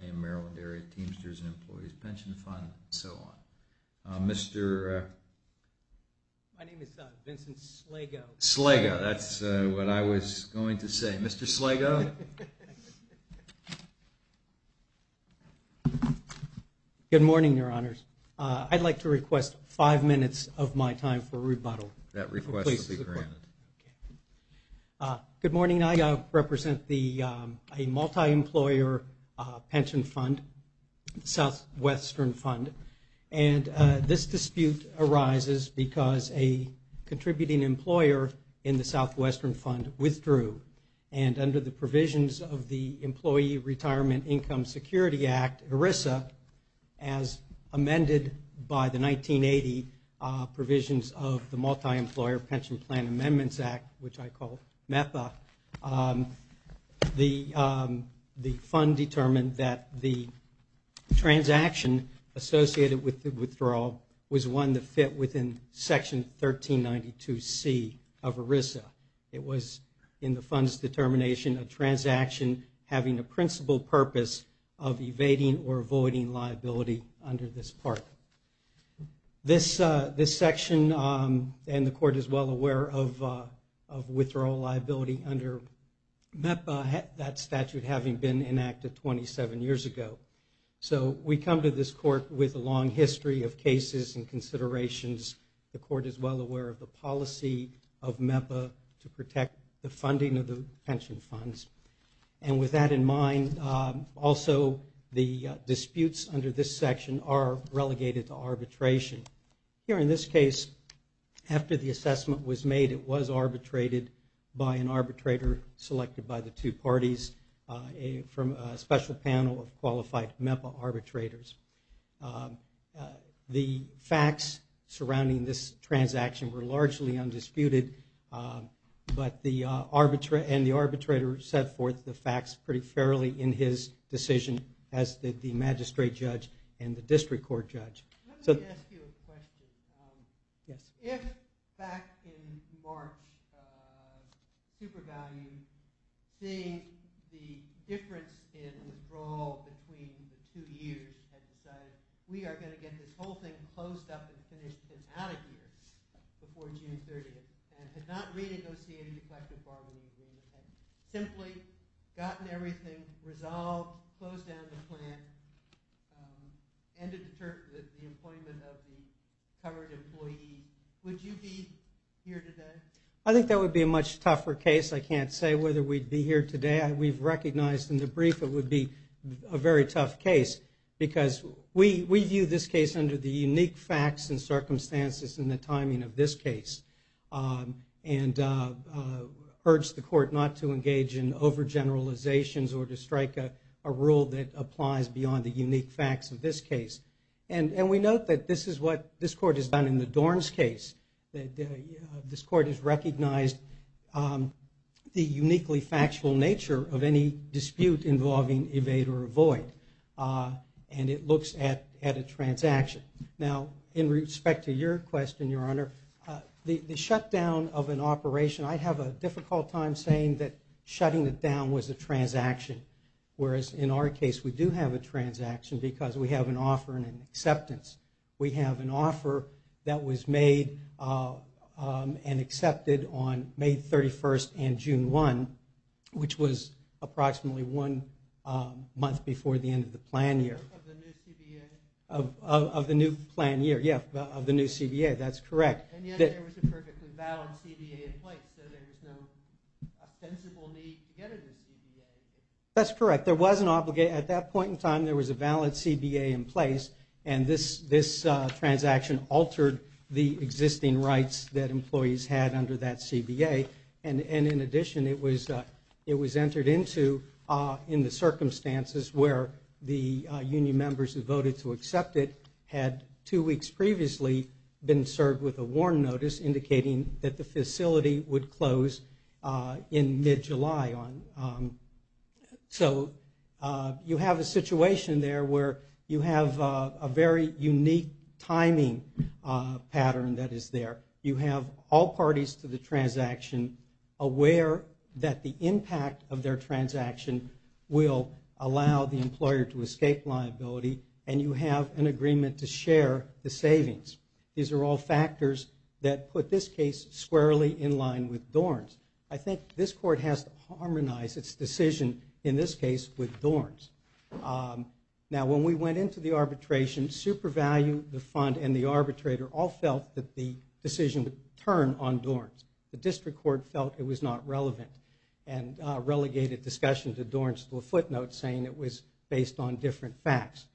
and Maryland Area Teamsters and Employees Pension Fund, and so on. Mr. My name is Vincent Slego. Slego, that's what I was going to say. Mr. Slego? Good morning, Your Honors. I'd like to request five minutes of my time for rebuttal. That request will be granted. Good morning. I represent a multi-employer pension fund, Southwestern Fund. And this dispute arises because a contributing employer in the Southwestern Fund withdrew. And under the provisions of the Employee Retirement Income Security Act, ERISA, as amended by the 1980 provisions of the Multi-Employer Pension Plan Amendments Act, which I call MEPA, the fund determined that the transaction associated with the withdrawal was one that fit within Section 1392C of ERISA. It was, in the fund's determination, a transaction having a principal purpose of evading or avoiding liability under this part. This section, and the Court is well aware of withdrawal liability under MEPA, that statute having been enacted 27 years ago. So we come to this Court with a long history of cases and considerations. The Court is well aware of the policy of MEPA to protect the funding of the pension funds. And with that in mind, also the disputes under this section are relegated to arbitration. Here, in this case, after the assessment was made, it was arbitrated by an arbitrator selected by the two parties from a special panel of qualified MEPA arbitrators. The facts surrounding this transaction were largely undisputed, and the arbitrator set forth the facts pretty fairly in his decision, as did the magistrate judge and the district court judge. Let me ask you a question. If, back in March, SuperValue, seeing the difference in withdrawal between the two years, had decided we are going to get this whole thing closed up and finished and out of here before June 30th, and had not renegotiated the collective bargaining agreement, had simply gotten everything resolved, closed down the plant, ended the employment of the covered employee, would you be here today? I think that would be a much tougher case. I can't say whether we'd be here today. We've recognized in the brief it would be a very tough case, because we view this case under the unique facts and circumstances and the timing of this case, and urge the court not to engage in overgeneralizations or to strike a rule that applies beyond the unique facts of this case. And we note that this is what this court has done in the Dorns case. This court has recognized the uniquely factual nature of any dispute involving evade or avoid, and it looks at a transaction. Now, in respect to your question, Your Honor, the shutdown of an operation, I have a difficult time saying that shutting it down was a transaction, whereas in our case we do have a transaction because we have an offer and an acceptance. We have an offer that was made and accepted on May 31st and June 1, which was approximately one month before the end of the plan year. Of the new CBA? Of the new plan year, yes, of the new CBA, that's correct. And yet there was a perfectly valid CBA in place, so there's no ostensible need to get a new CBA. That's correct. At that point in time there was a valid CBA in place, and this transaction altered the existing rights that employees had under that CBA. And in addition, it was entered into in the circumstances where the union members who voted to accept it had two weeks previously been served with a warn notice indicating that the facility would close in mid-July. So you have a situation there where you have a very unique timing pattern that is there. You have all parties to the transaction aware that the impact of their transaction will allow the employer to escape liability, and you have an agreement to share the savings. These are all factors that put this case squarely in line with Dorn's. I think this Court has to harmonize its decision in this case with Dorn's. Now, when we went into the arbitration, SuperValue, the fund, and the arbitrator all felt that the decision would turn on Dorn's. The District Court felt it was not relevant and relegated discussion to Dorn's to a footnote saying it was based on different facts.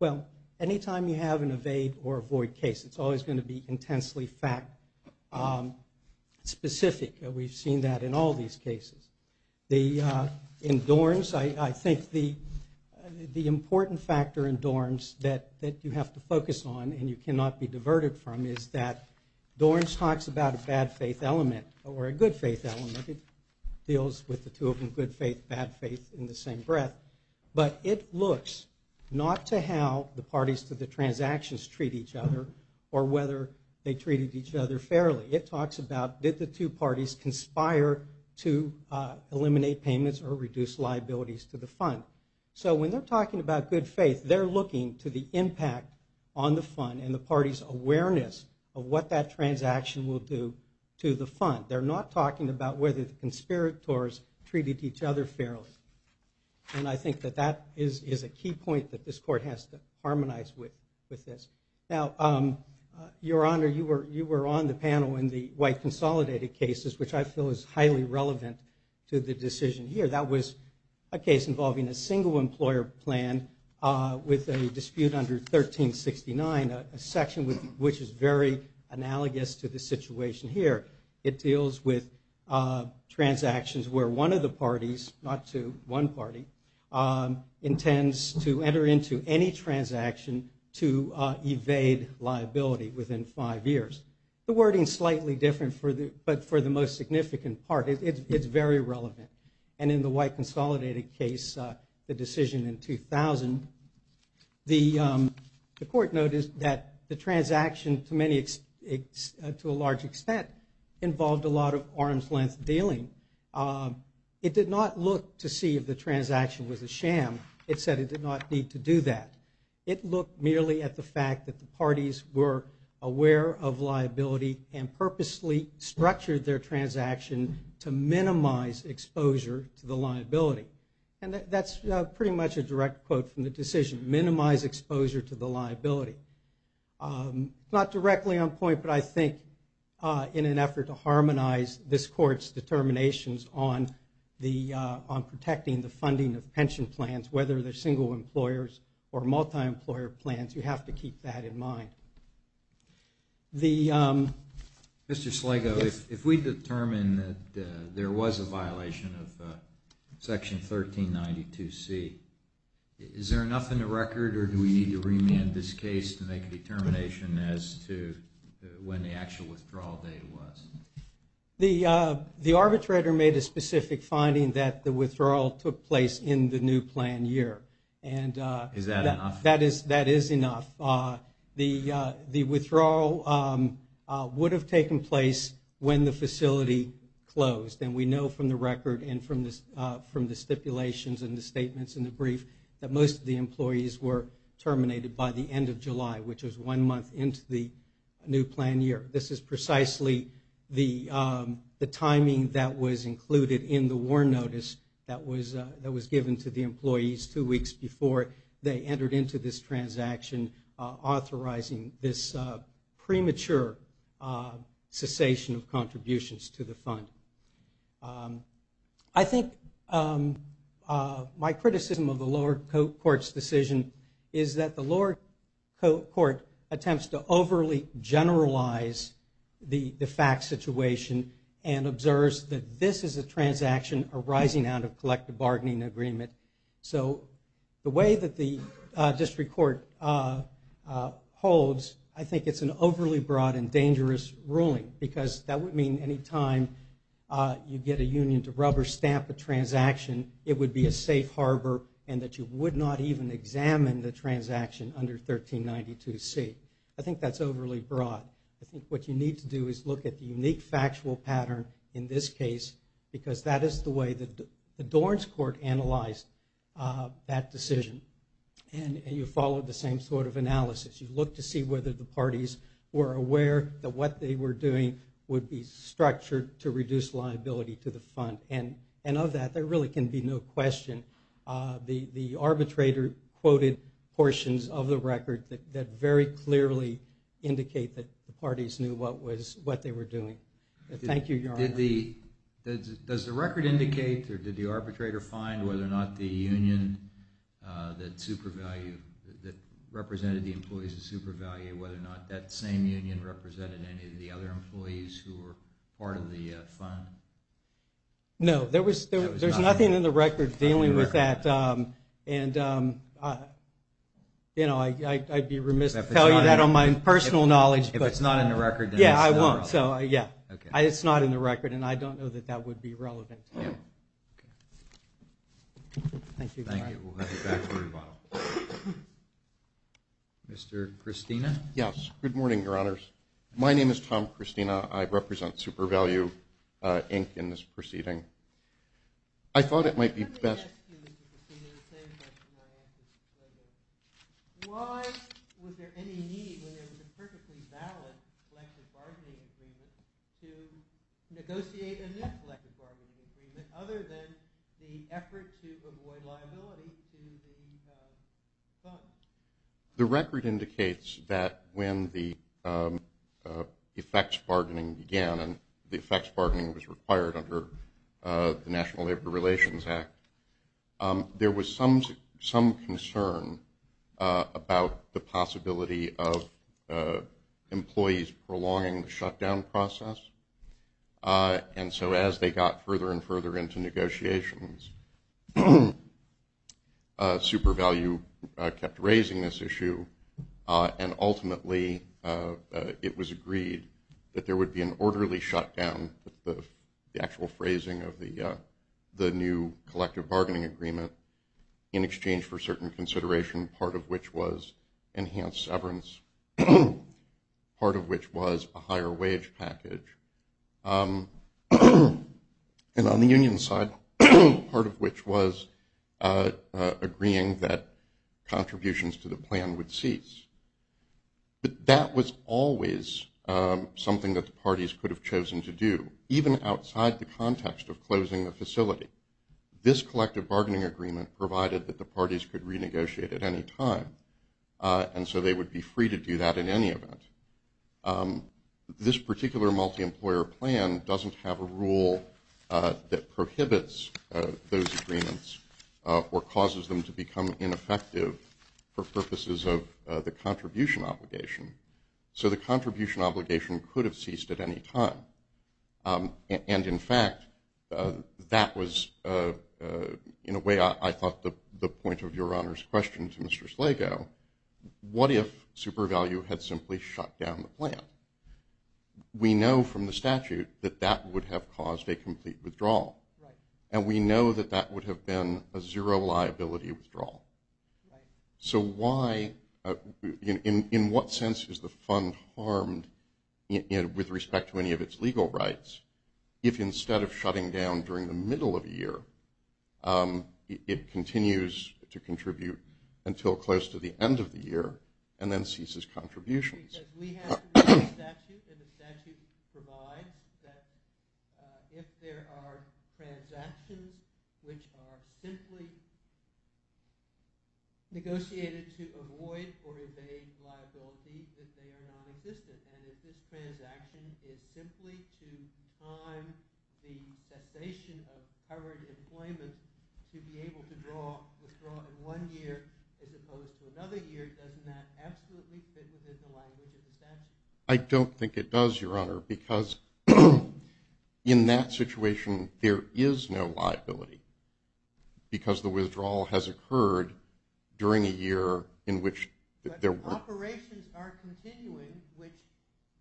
Well, any time you have an evade or avoid case, it's always going to be intensely fact-specific. We've seen that in all these cases. In Dorn's, I think the important factor in Dorn's that you have to focus on and you cannot be diverted from is that Dorn's talks about a bad faith element or a good faith element. It deals with the two of them, good faith, bad faith, in the same breath. But it looks not to how the parties to the transactions treat each other or whether they treated each other fairly. It talks about did the two parties conspire to eliminate payments or reduce liabilities to the fund. So when they're talking about good faith, they're looking to the impact on the fund and the party's awareness of what that transaction will do to the fund. They're not talking about whether the conspirators treated each other fairly. And I think that that is a key point that this Court has to harmonize with this. Now, Your Honor, you were on the panel in the white consolidated cases, which I feel is highly relevant to the decision here. That was a case involving a single employer plan with a dispute under 1369, a section which is very analogous to the situation here. It deals with transactions where one of the parties, not to one party, intends to enter into any transaction to evade liability within five years. The wording's slightly different, but for the most significant part, it's very relevant. And in the white consolidated case, the decision in 2000, the Court noticed that the transaction, to a large extent, involved a lot of arm's length dealing. It did not look to see if the transaction was a sham. It said it did not need to do that. It looked merely at the fact that the parties were aware of liability and purposely structured their transaction to minimize exposure to the liability. And that's pretty much a direct quote from the decision, minimize exposure to the liability. Not directly on point, but I think in an effort to harmonize this Court's determinations on protecting the funding of pension plans, whether they're single employers or multi-employer plans, you have to keep that in mind. Mr. Sligo, if we determine that there was a violation of Section 1392C, is there enough in the record or do we need to remand this case to make a determination as to when the actual withdrawal date was? The arbitrator made a specific finding that the withdrawal took place in the new plan year. Is that enough? That is enough. The withdrawal would have taken place when the facility closed, and we know from the record and from the stipulations and the statements in the brief that most of the employees were terminated by the end of July, which was one month into the new plan year. This is precisely the timing that was included in the war notice that was given to the employees two weeks before they entered into this transaction, authorizing this premature cessation of contributions to the fund. I think my criticism of the lower court's decision is that the lower court attempts to overly generalize the de facto situation and observes that this is a transaction arising out of collective bargaining agreement. So the way that the district court holds, I think it's an overly broad and dangerous ruling because that would mean any time you get a union to rubber stamp a transaction, it would be a safe harbor and that you would not even examine the transaction under 1392C. I think that's overly broad. I think what you need to do is look at the unique factual pattern in this case because that is the way that the Dorns court analyzed that decision. And you follow the same sort of analysis. You look to see whether the parties were aware that what they were doing would be structured to reduce liability to the fund. And of that, there really can be no question. The arbitrator quoted portions of the record that very clearly indicate that the parties knew what they were doing. Thank you, Your Honor. Does the record indicate or did the arbitrator find whether or not the union that represented the employees of SuperValue, whether or not that same union represented any of the other employees who were part of the fund? No, there's nothing in the record dealing with that. I'd be remiss to tell you that on my personal knowledge. If it's not in the record, then it's not relevant. Yeah, I won't. It's not in the record, and I don't know that that would be relevant. Thank you. Mr. Christina? Yes. Good morning, Your Honors. My name is Tom Christina. I represent SuperValue, Inc., in this proceeding. I thought it might be best. Let me ask you, Mr. Christina, the same question I asked you earlier. Why was there any need when there was a perfectly balanced collective bargaining agreement to negotiate a new collective bargaining agreement other than the effort to avoid liability to the fund? The record indicates that when the effects bargaining began was required under the National Labor Relations Act, there was some concern about the possibility of employees prolonging the shutdown process. And so as they got further and further into negotiations, SuperValue kept raising this issue, and ultimately it was agreed that there would be an orderly shutdown, the actual phrasing of the new collective bargaining agreement, in exchange for certain consideration, part of which was enhanced severance, part of which was a higher wage package. And on the union side, part of which was agreeing that contributions to the plan would cease. But that was always something that the parties could have chosen to do, even outside the context of closing the facility. This collective bargaining agreement provided that the parties could renegotiate at any time, and so they would be free to do that in any event. This particular multi-employer plan doesn't have a rule that prohibits those agreements or causes them to become ineffective for purposes of the contribution obligation. So the contribution obligation could have ceased at any time. And, in fact, that was, in a way, I thought the point of Your Honor's question to Mr. Slago, what if SuperValue had simply shut down the plan? We know from the statute that that would have caused a complete withdrawal. And we know that that would have been a zero liability withdrawal. So why, in what sense is the fund harmed with respect to any of its legal rights if instead of shutting down during the middle of a year, it continues to contribute until close to the end of the year, and then ceases contributions? Because we have the statute, and the statute provides that if there are transactions which are simply negotiated to avoid or evade liability, that they are nonexistent. And if this transaction is simply to time the cessation of covered employment to be able to withdraw in one year as opposed to another year, doesn't that absolutely fit within the language of the statute? I don't think it does, Your Honor, because in that situation there is no liability because the withdrawal has occurred during a year in which there weren't. But operations are continuing, which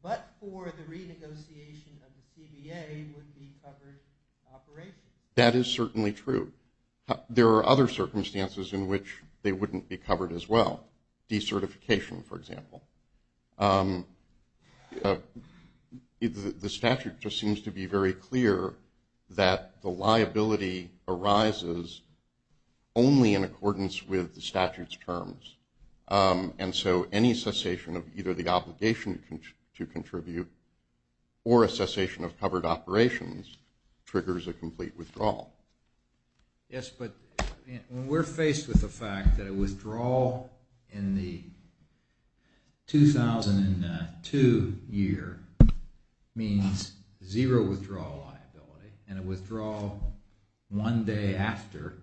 but for the renegotiation of the CBA would be covered operations. That is certainly true. There are other circumstances in which they wouldn't be covered as well, decertification, for example. The statute just seems to be very clear that the liability arises only in accordance with the statute's terms. And so any cessation of either the obligation to contribute or a cessation of covered operations triggers a complete withdrawal. Yes, but when we're faced with the fact that a withdrawal in the 2002 year means zero withdrawal liability and a withdrawal one day after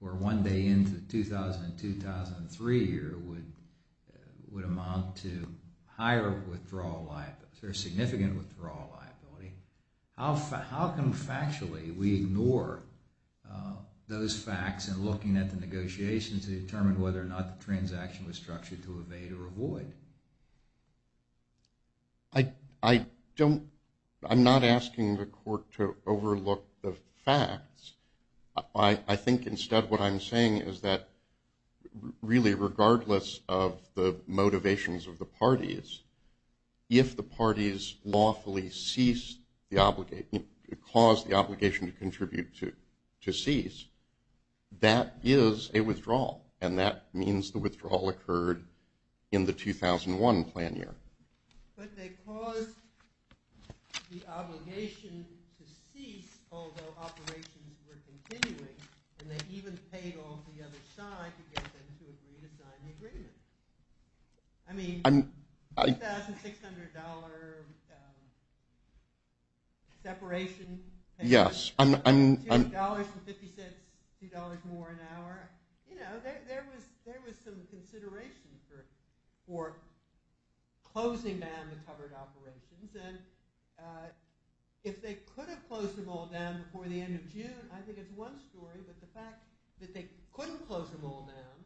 or one day into the 2000-2003 year would amount to higher withdrawal liability, a significant withdrawal liability, how can factually we ignore those facts in looking at the negotiations to determine whether or not the transaction was structured to evade or avoid? I'm not asking the Court to overlook the facts. I think instead what I'm saying is that really regardless of the motivations of the parties, if the parties lawfully ceased the obligation, caused the obligation to contribute to cease, that is a withdrawal, and that means the withdrawal occurred in the 2001 plan year. But they caused the obligation to cease although operations were continuing, and they even paid off the other side to get them to agree to sign the agreement. I mean, $2,600 separation, $2.50, $2 more an hour, there was some consideration for closing down the covered operations. And if they could have closed them all down before the end of June, I think it's one story, but the fact that they couldn't close them all down,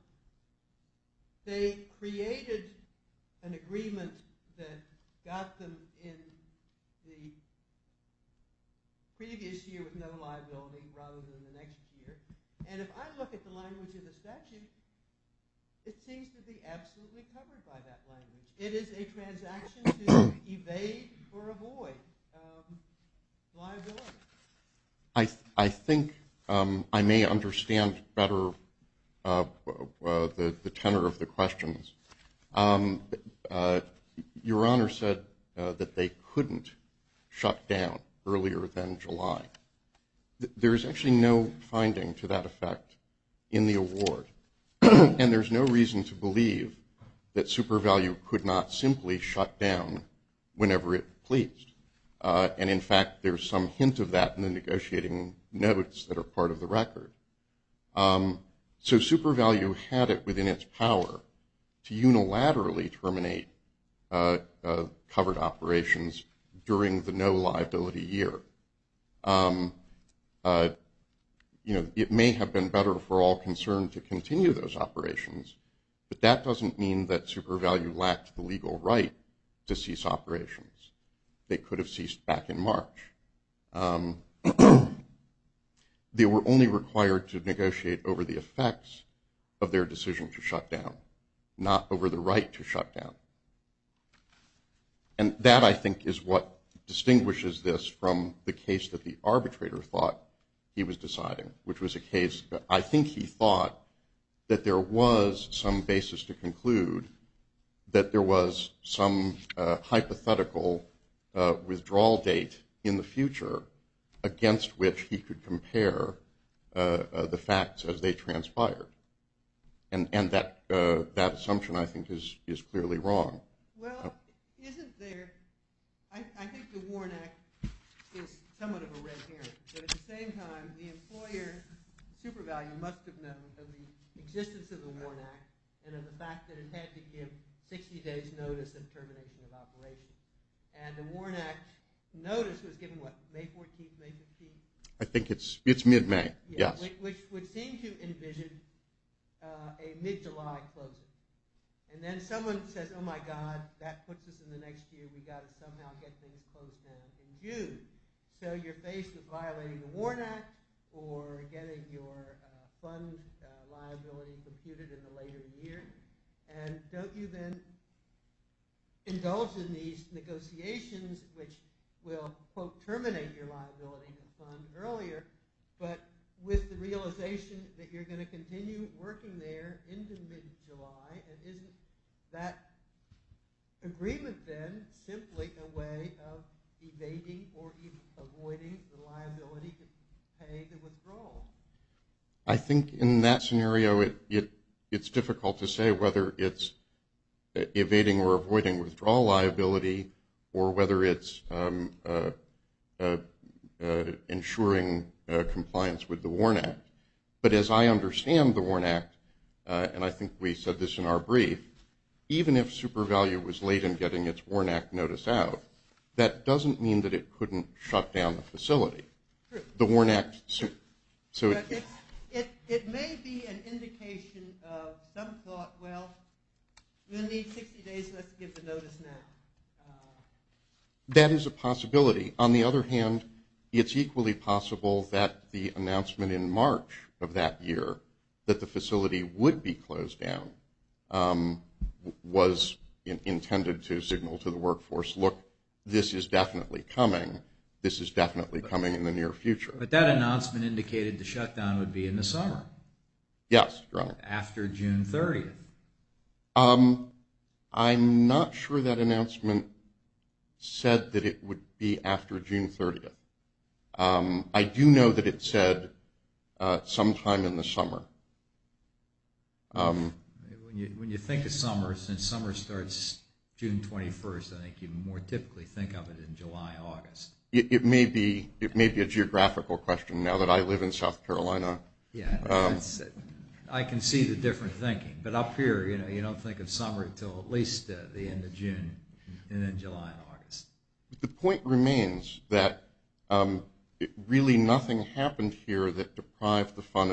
they created an agreement that got them in the previous year with no liability rather than the next year. And if I look at the language of the statute, it seems to be absolutely covered by that language. It is a transaction to evade or avoid liability. I think I may understand better the tenor of the questions. Your Honor said that they couldn't shut down earlier than July. There is actually no finding to that effect in the award, and there's no reason to believe that SuperValue could not simply shut down whenever it pleased. And, in fact, there's some hint of that in the negotiating notes that are part of the record. So SuperValue had it within its power to unilaterally terminate covered operations during the no liability year. It may have been better for all concerned to continue those operations, but that doesn't mean that SuperValue lacked the legal right to cease operations. They could have ceased back in March. They were only required to negotiate over the effects of their decision to shut down, not over the right to shut down. And that, I think, is what distinguishes this from the case that the arbitrator thought he was deciding, which was a case that I think he thought that there was some basis to conclude that there was some hypothetical withdrawal date in the future against which he could compare the facts as they transpired. And that assumption, I think, is clearly wrong. Well, isn't there – I think the WARN Act is somewhat of a red herring, but at the same time, the employer, SuperValue, must have known of the existence of the WARN Act and of the fact that it had to give 60 days' notice of termination of operations. And the WARN Act notice was given, what, May 14th, May 15th? I think it's mid-May, yes. Which would seem to envision a mid-July closing. And then someone says, oh, my God, that puts us in the next year. We've got to somehow get things closed down. So you're faced with violating the WARN Act or getting your fund liability computed in a later year. And don't you then indulge in these negotiations, which will, quote, terminate your liability in the fund earlier, but with the realization that you're going to continue working there into mid-July. And isn't that agreement then simply a way of evading or avoiding the liability to pay the withdrawal? I think in that scenario, it's difficult to say whether it's evading or avoiding withdrawal liability or whether it's ensuring compliance with the WARN Act. But as I understand the WARN Act, and I think we said this in our brief, even if SuperValue was late in getting its WARN Act notice out, that doesn't mean that it couldn't shut down the facility. True. The WARN Act. It may be an indication of some thought, well, we'll need 60 days, let's give the notice now. That is a possibility. On the other hand, it's equally possible that the announcement in March of that year that the facility would be closed down was intended to signal to the workforce, look, this is definitely coming, this is definitely coming in the near future. But that announcement indicated the shutdown would be in the summer. Yes, Your Honor. After June 30th. I'm not sure that announcement said that it would be after June 30th. I do know that it said sometime in the summer. When you think of summer, since summer starts June 21st, I think you more typically think of it in July, August. It may be a geographical question now that I live in South Carolina. I can see the different thinking. But up here you don't think of summer until at least the end of June and then July and August. The point remains that really nothing happened here that deprived the fund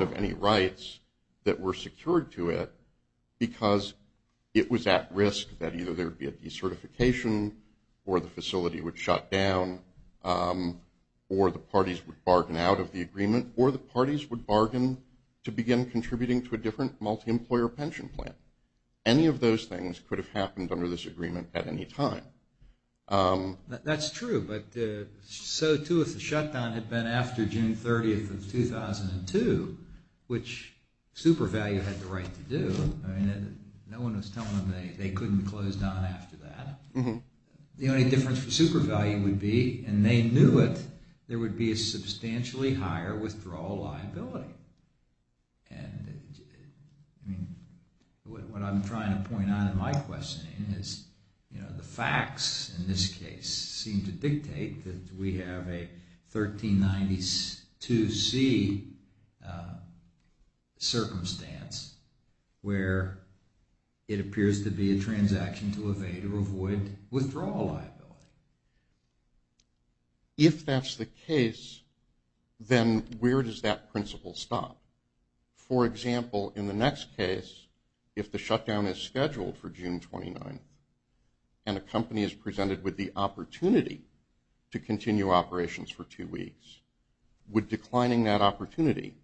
of any rights that were secured to it because it was at risk that either there would be a decertification or the facility would shut down or the parties would bargain out of the agreement or the parties would bargain to begin contributing to a different multi-employer pension plan. Any of those things could have happened under this agreement at any time. That's true, but so too if the shutdown had been after June 30th of 2002, which SuperValue had the right to do. No one was telling them they couldn't close down after that. The only difference for SuperValue would be, and they knew it, there would be a substantially higher withdrawal liability. What I'm trying to point out in my questioning is the facts in this case seem to dictate that we have a 1392C circumstance where it appears to be a transaction to evade or avoid withdrawal liability. If that's the case, then where does that principle stop? For example, in the next case, if the shutdown is scheduled for June 29th and a company is presented with the opportunity to continue operations for two weeks, would declining that opportunity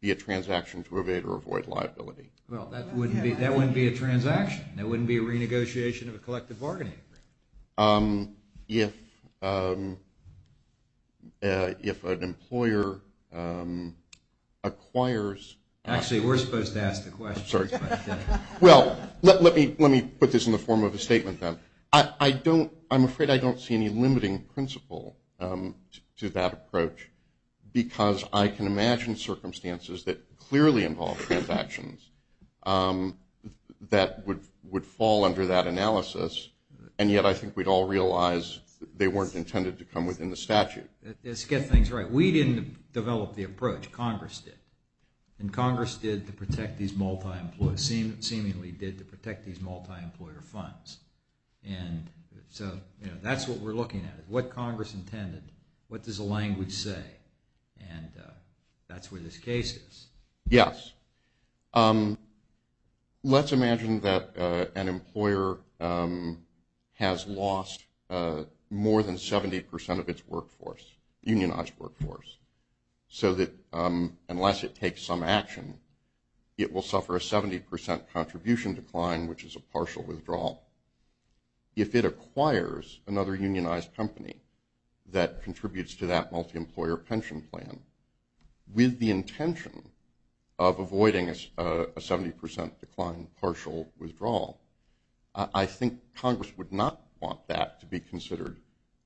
be a transaction to evade or avoid liability? Well, that wouldn't be a transaction. That wouldn't be a renegotiation of a collective bargaining agreement. If an employer acquires… Actually, we're supposed to ask the questions. I'm sorry. Well, let me put this in the form of a statement then. I'm afraid I don't see any limiting principle to that approach because I can imagine circumstances that clearly involve transactions that would fall under that analysis, and yet I think we'd all realize they weren't intended to come within the statute. Let's get things right. We didn't develop the approach. Congress did, and Congress did to protect these multi-employer funds. And so that's what we're looking at. What Congress intended, what does the language say, and that's where this case is. Yes. Let's imagine that an employer has lost more than 70% of its workforce, unionized workforce, so that unless it takes some action, it will suffer a 70% contribution decline, which is a partial withdrawal. If it acquires another unionized company that contributes to that multi-employer pension plan with the intention of avoiding a 70% decline partial withdrawal, I think Congress would not want that to be considered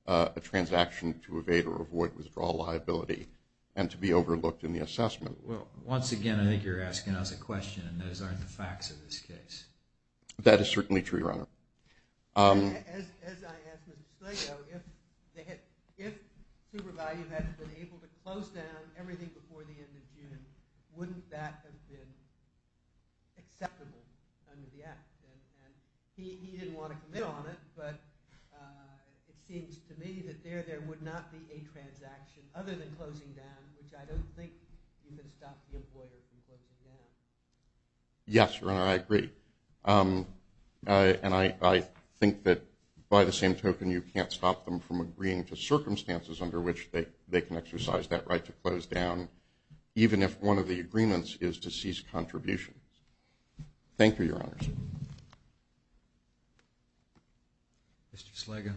a transaction to evade or avoid withdrawal liability and to be overlooked in the assessment. Once again, I think you're asking us a question, and those aren't the facts of this case. That is certainly true, Your Honor. As I asked Mr. Slato, if SuperValue had been able to close down everything before the end of June, wouldn't that have been acceptable under the Act? He didn't want to commit on it, but it seems to me that there would not be a transaction other than closing down, which I don't think you can stop the employer from closing down. Yes, Your Honor, I agree. And I think that by the same token, you can't stop them from agreeing to circumstances under which they can exercise that right to close down, even if one of the agreements is to cease contributions. Thank you, Your Honor. Mr. Slago.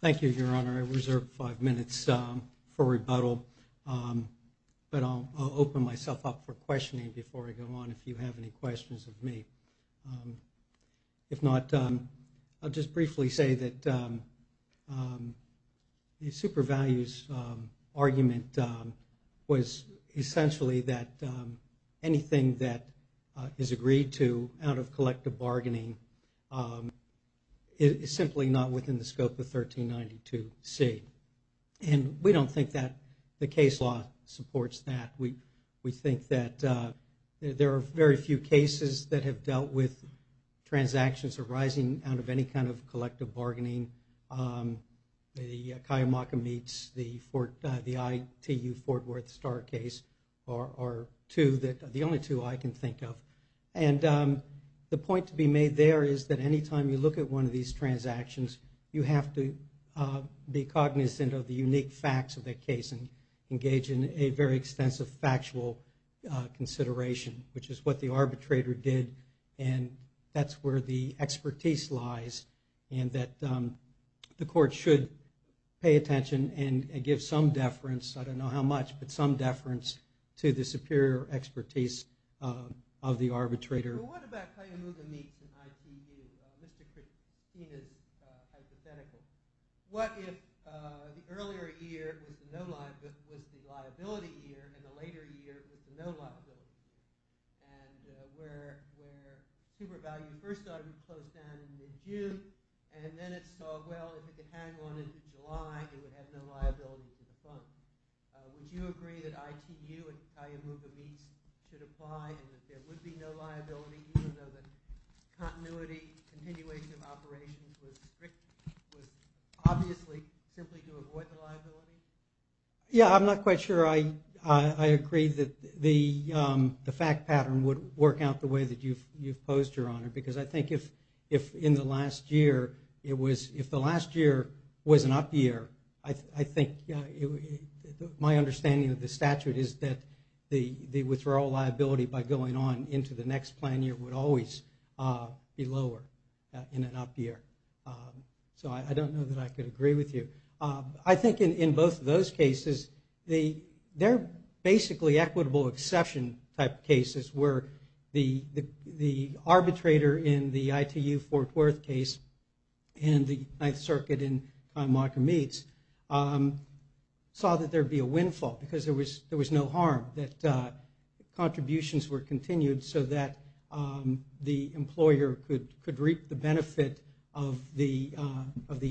Thank you, Your Honor. I reserve five minutes for rebuttal, but I'll open myself up for questioning before I go on if you have any questions of me. If not, I'll just briefly say that SuperValue's argument was essentially that anything that is agreed to out of collective bargaining is simply not within the scope of 1392C. And we don't think that the case law supports that. We think that there are very few cases that have dealt with transactions arising out of any kind of collective bargaining. The Kayamaka Meats, the ITU Fort Worth Star case are two, the only two I can think of. And the point to be made there is that any time you look at one of these transactions, you have to be cognizant of the unique facts of that case and engage in a very extensive factual consideration, which is what the arbitrator did and that's where the expertise lies and that the court should pay attention and give some deference, I don't know how much, but some deference to the superior expertise of the arbitrator. Well, what about Kayamaka Meats and ITU? Mr. Christine is hypothetical. What if the earlier year was the liability year and the later year was the no liability year and where SuperValue first closed down in mid-June and then it saw, well, if it could hang on into July, it would have no liability for the funds. Would you agree that ITU and Kayamaka Meats should apply and that there would be no liability even though the continuity, continuation of operations was strictly, was obviously simply to avoid the liability? Yeah, I'm not quite sure I agree that the fact pattern would work out the way that you've posed, Your Honor, because I think if in the last year it was, if the last year was an up year, I think my understanding of the statute is that the withdrawal liability by going on into the next plan year would always be lower in an up year. So I don't know that I could agree with you. I think in both of those cases, they're basically equitable exception type cases where the arbitrator in the ITU Fort Worth case and the Ninth Circuit in Kayamaka Meats saw that there would be a windfall because there was no harm, that contributions were continued so that the employer could reap the benefit of the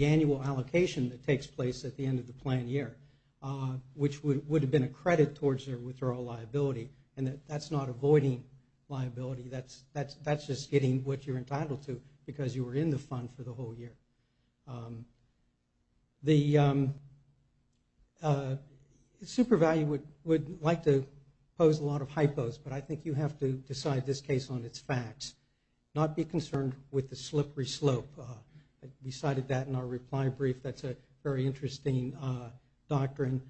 annual allocation that takes place at the end of the plan year, which would have been a credit towards their withdrawal liability and that that's not avoiding liability, that's just getting what you're entitled to because you were in the fund for the whole year. The super value would like to pose a lot of hypos, but I think you have to decide this case on its facts. Not be concerned with the slippery slope. We cited that in our reply brief. That's a very interesting doctrine.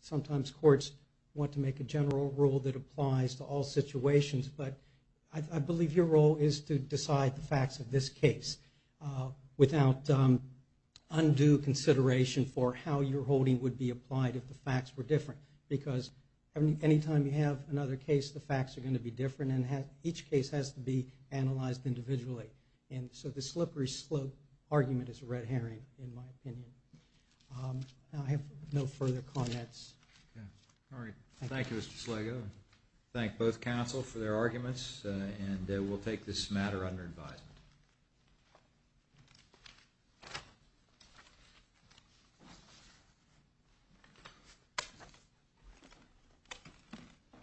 Sometimes courts want to make a general rule that applies to all situations, but I believe your role is to decide the facts of this case without undue consideration for how your holding would be applied if the facts were different because any time you have another case, the facts are going to be different and each case has to be analyzed individually. So the slippery slope argument is a red herring in my opinion. I have no further comments. Thank you, Mr. Sligo. Thank both counsel for their arguments and we'll take this matter under advisement.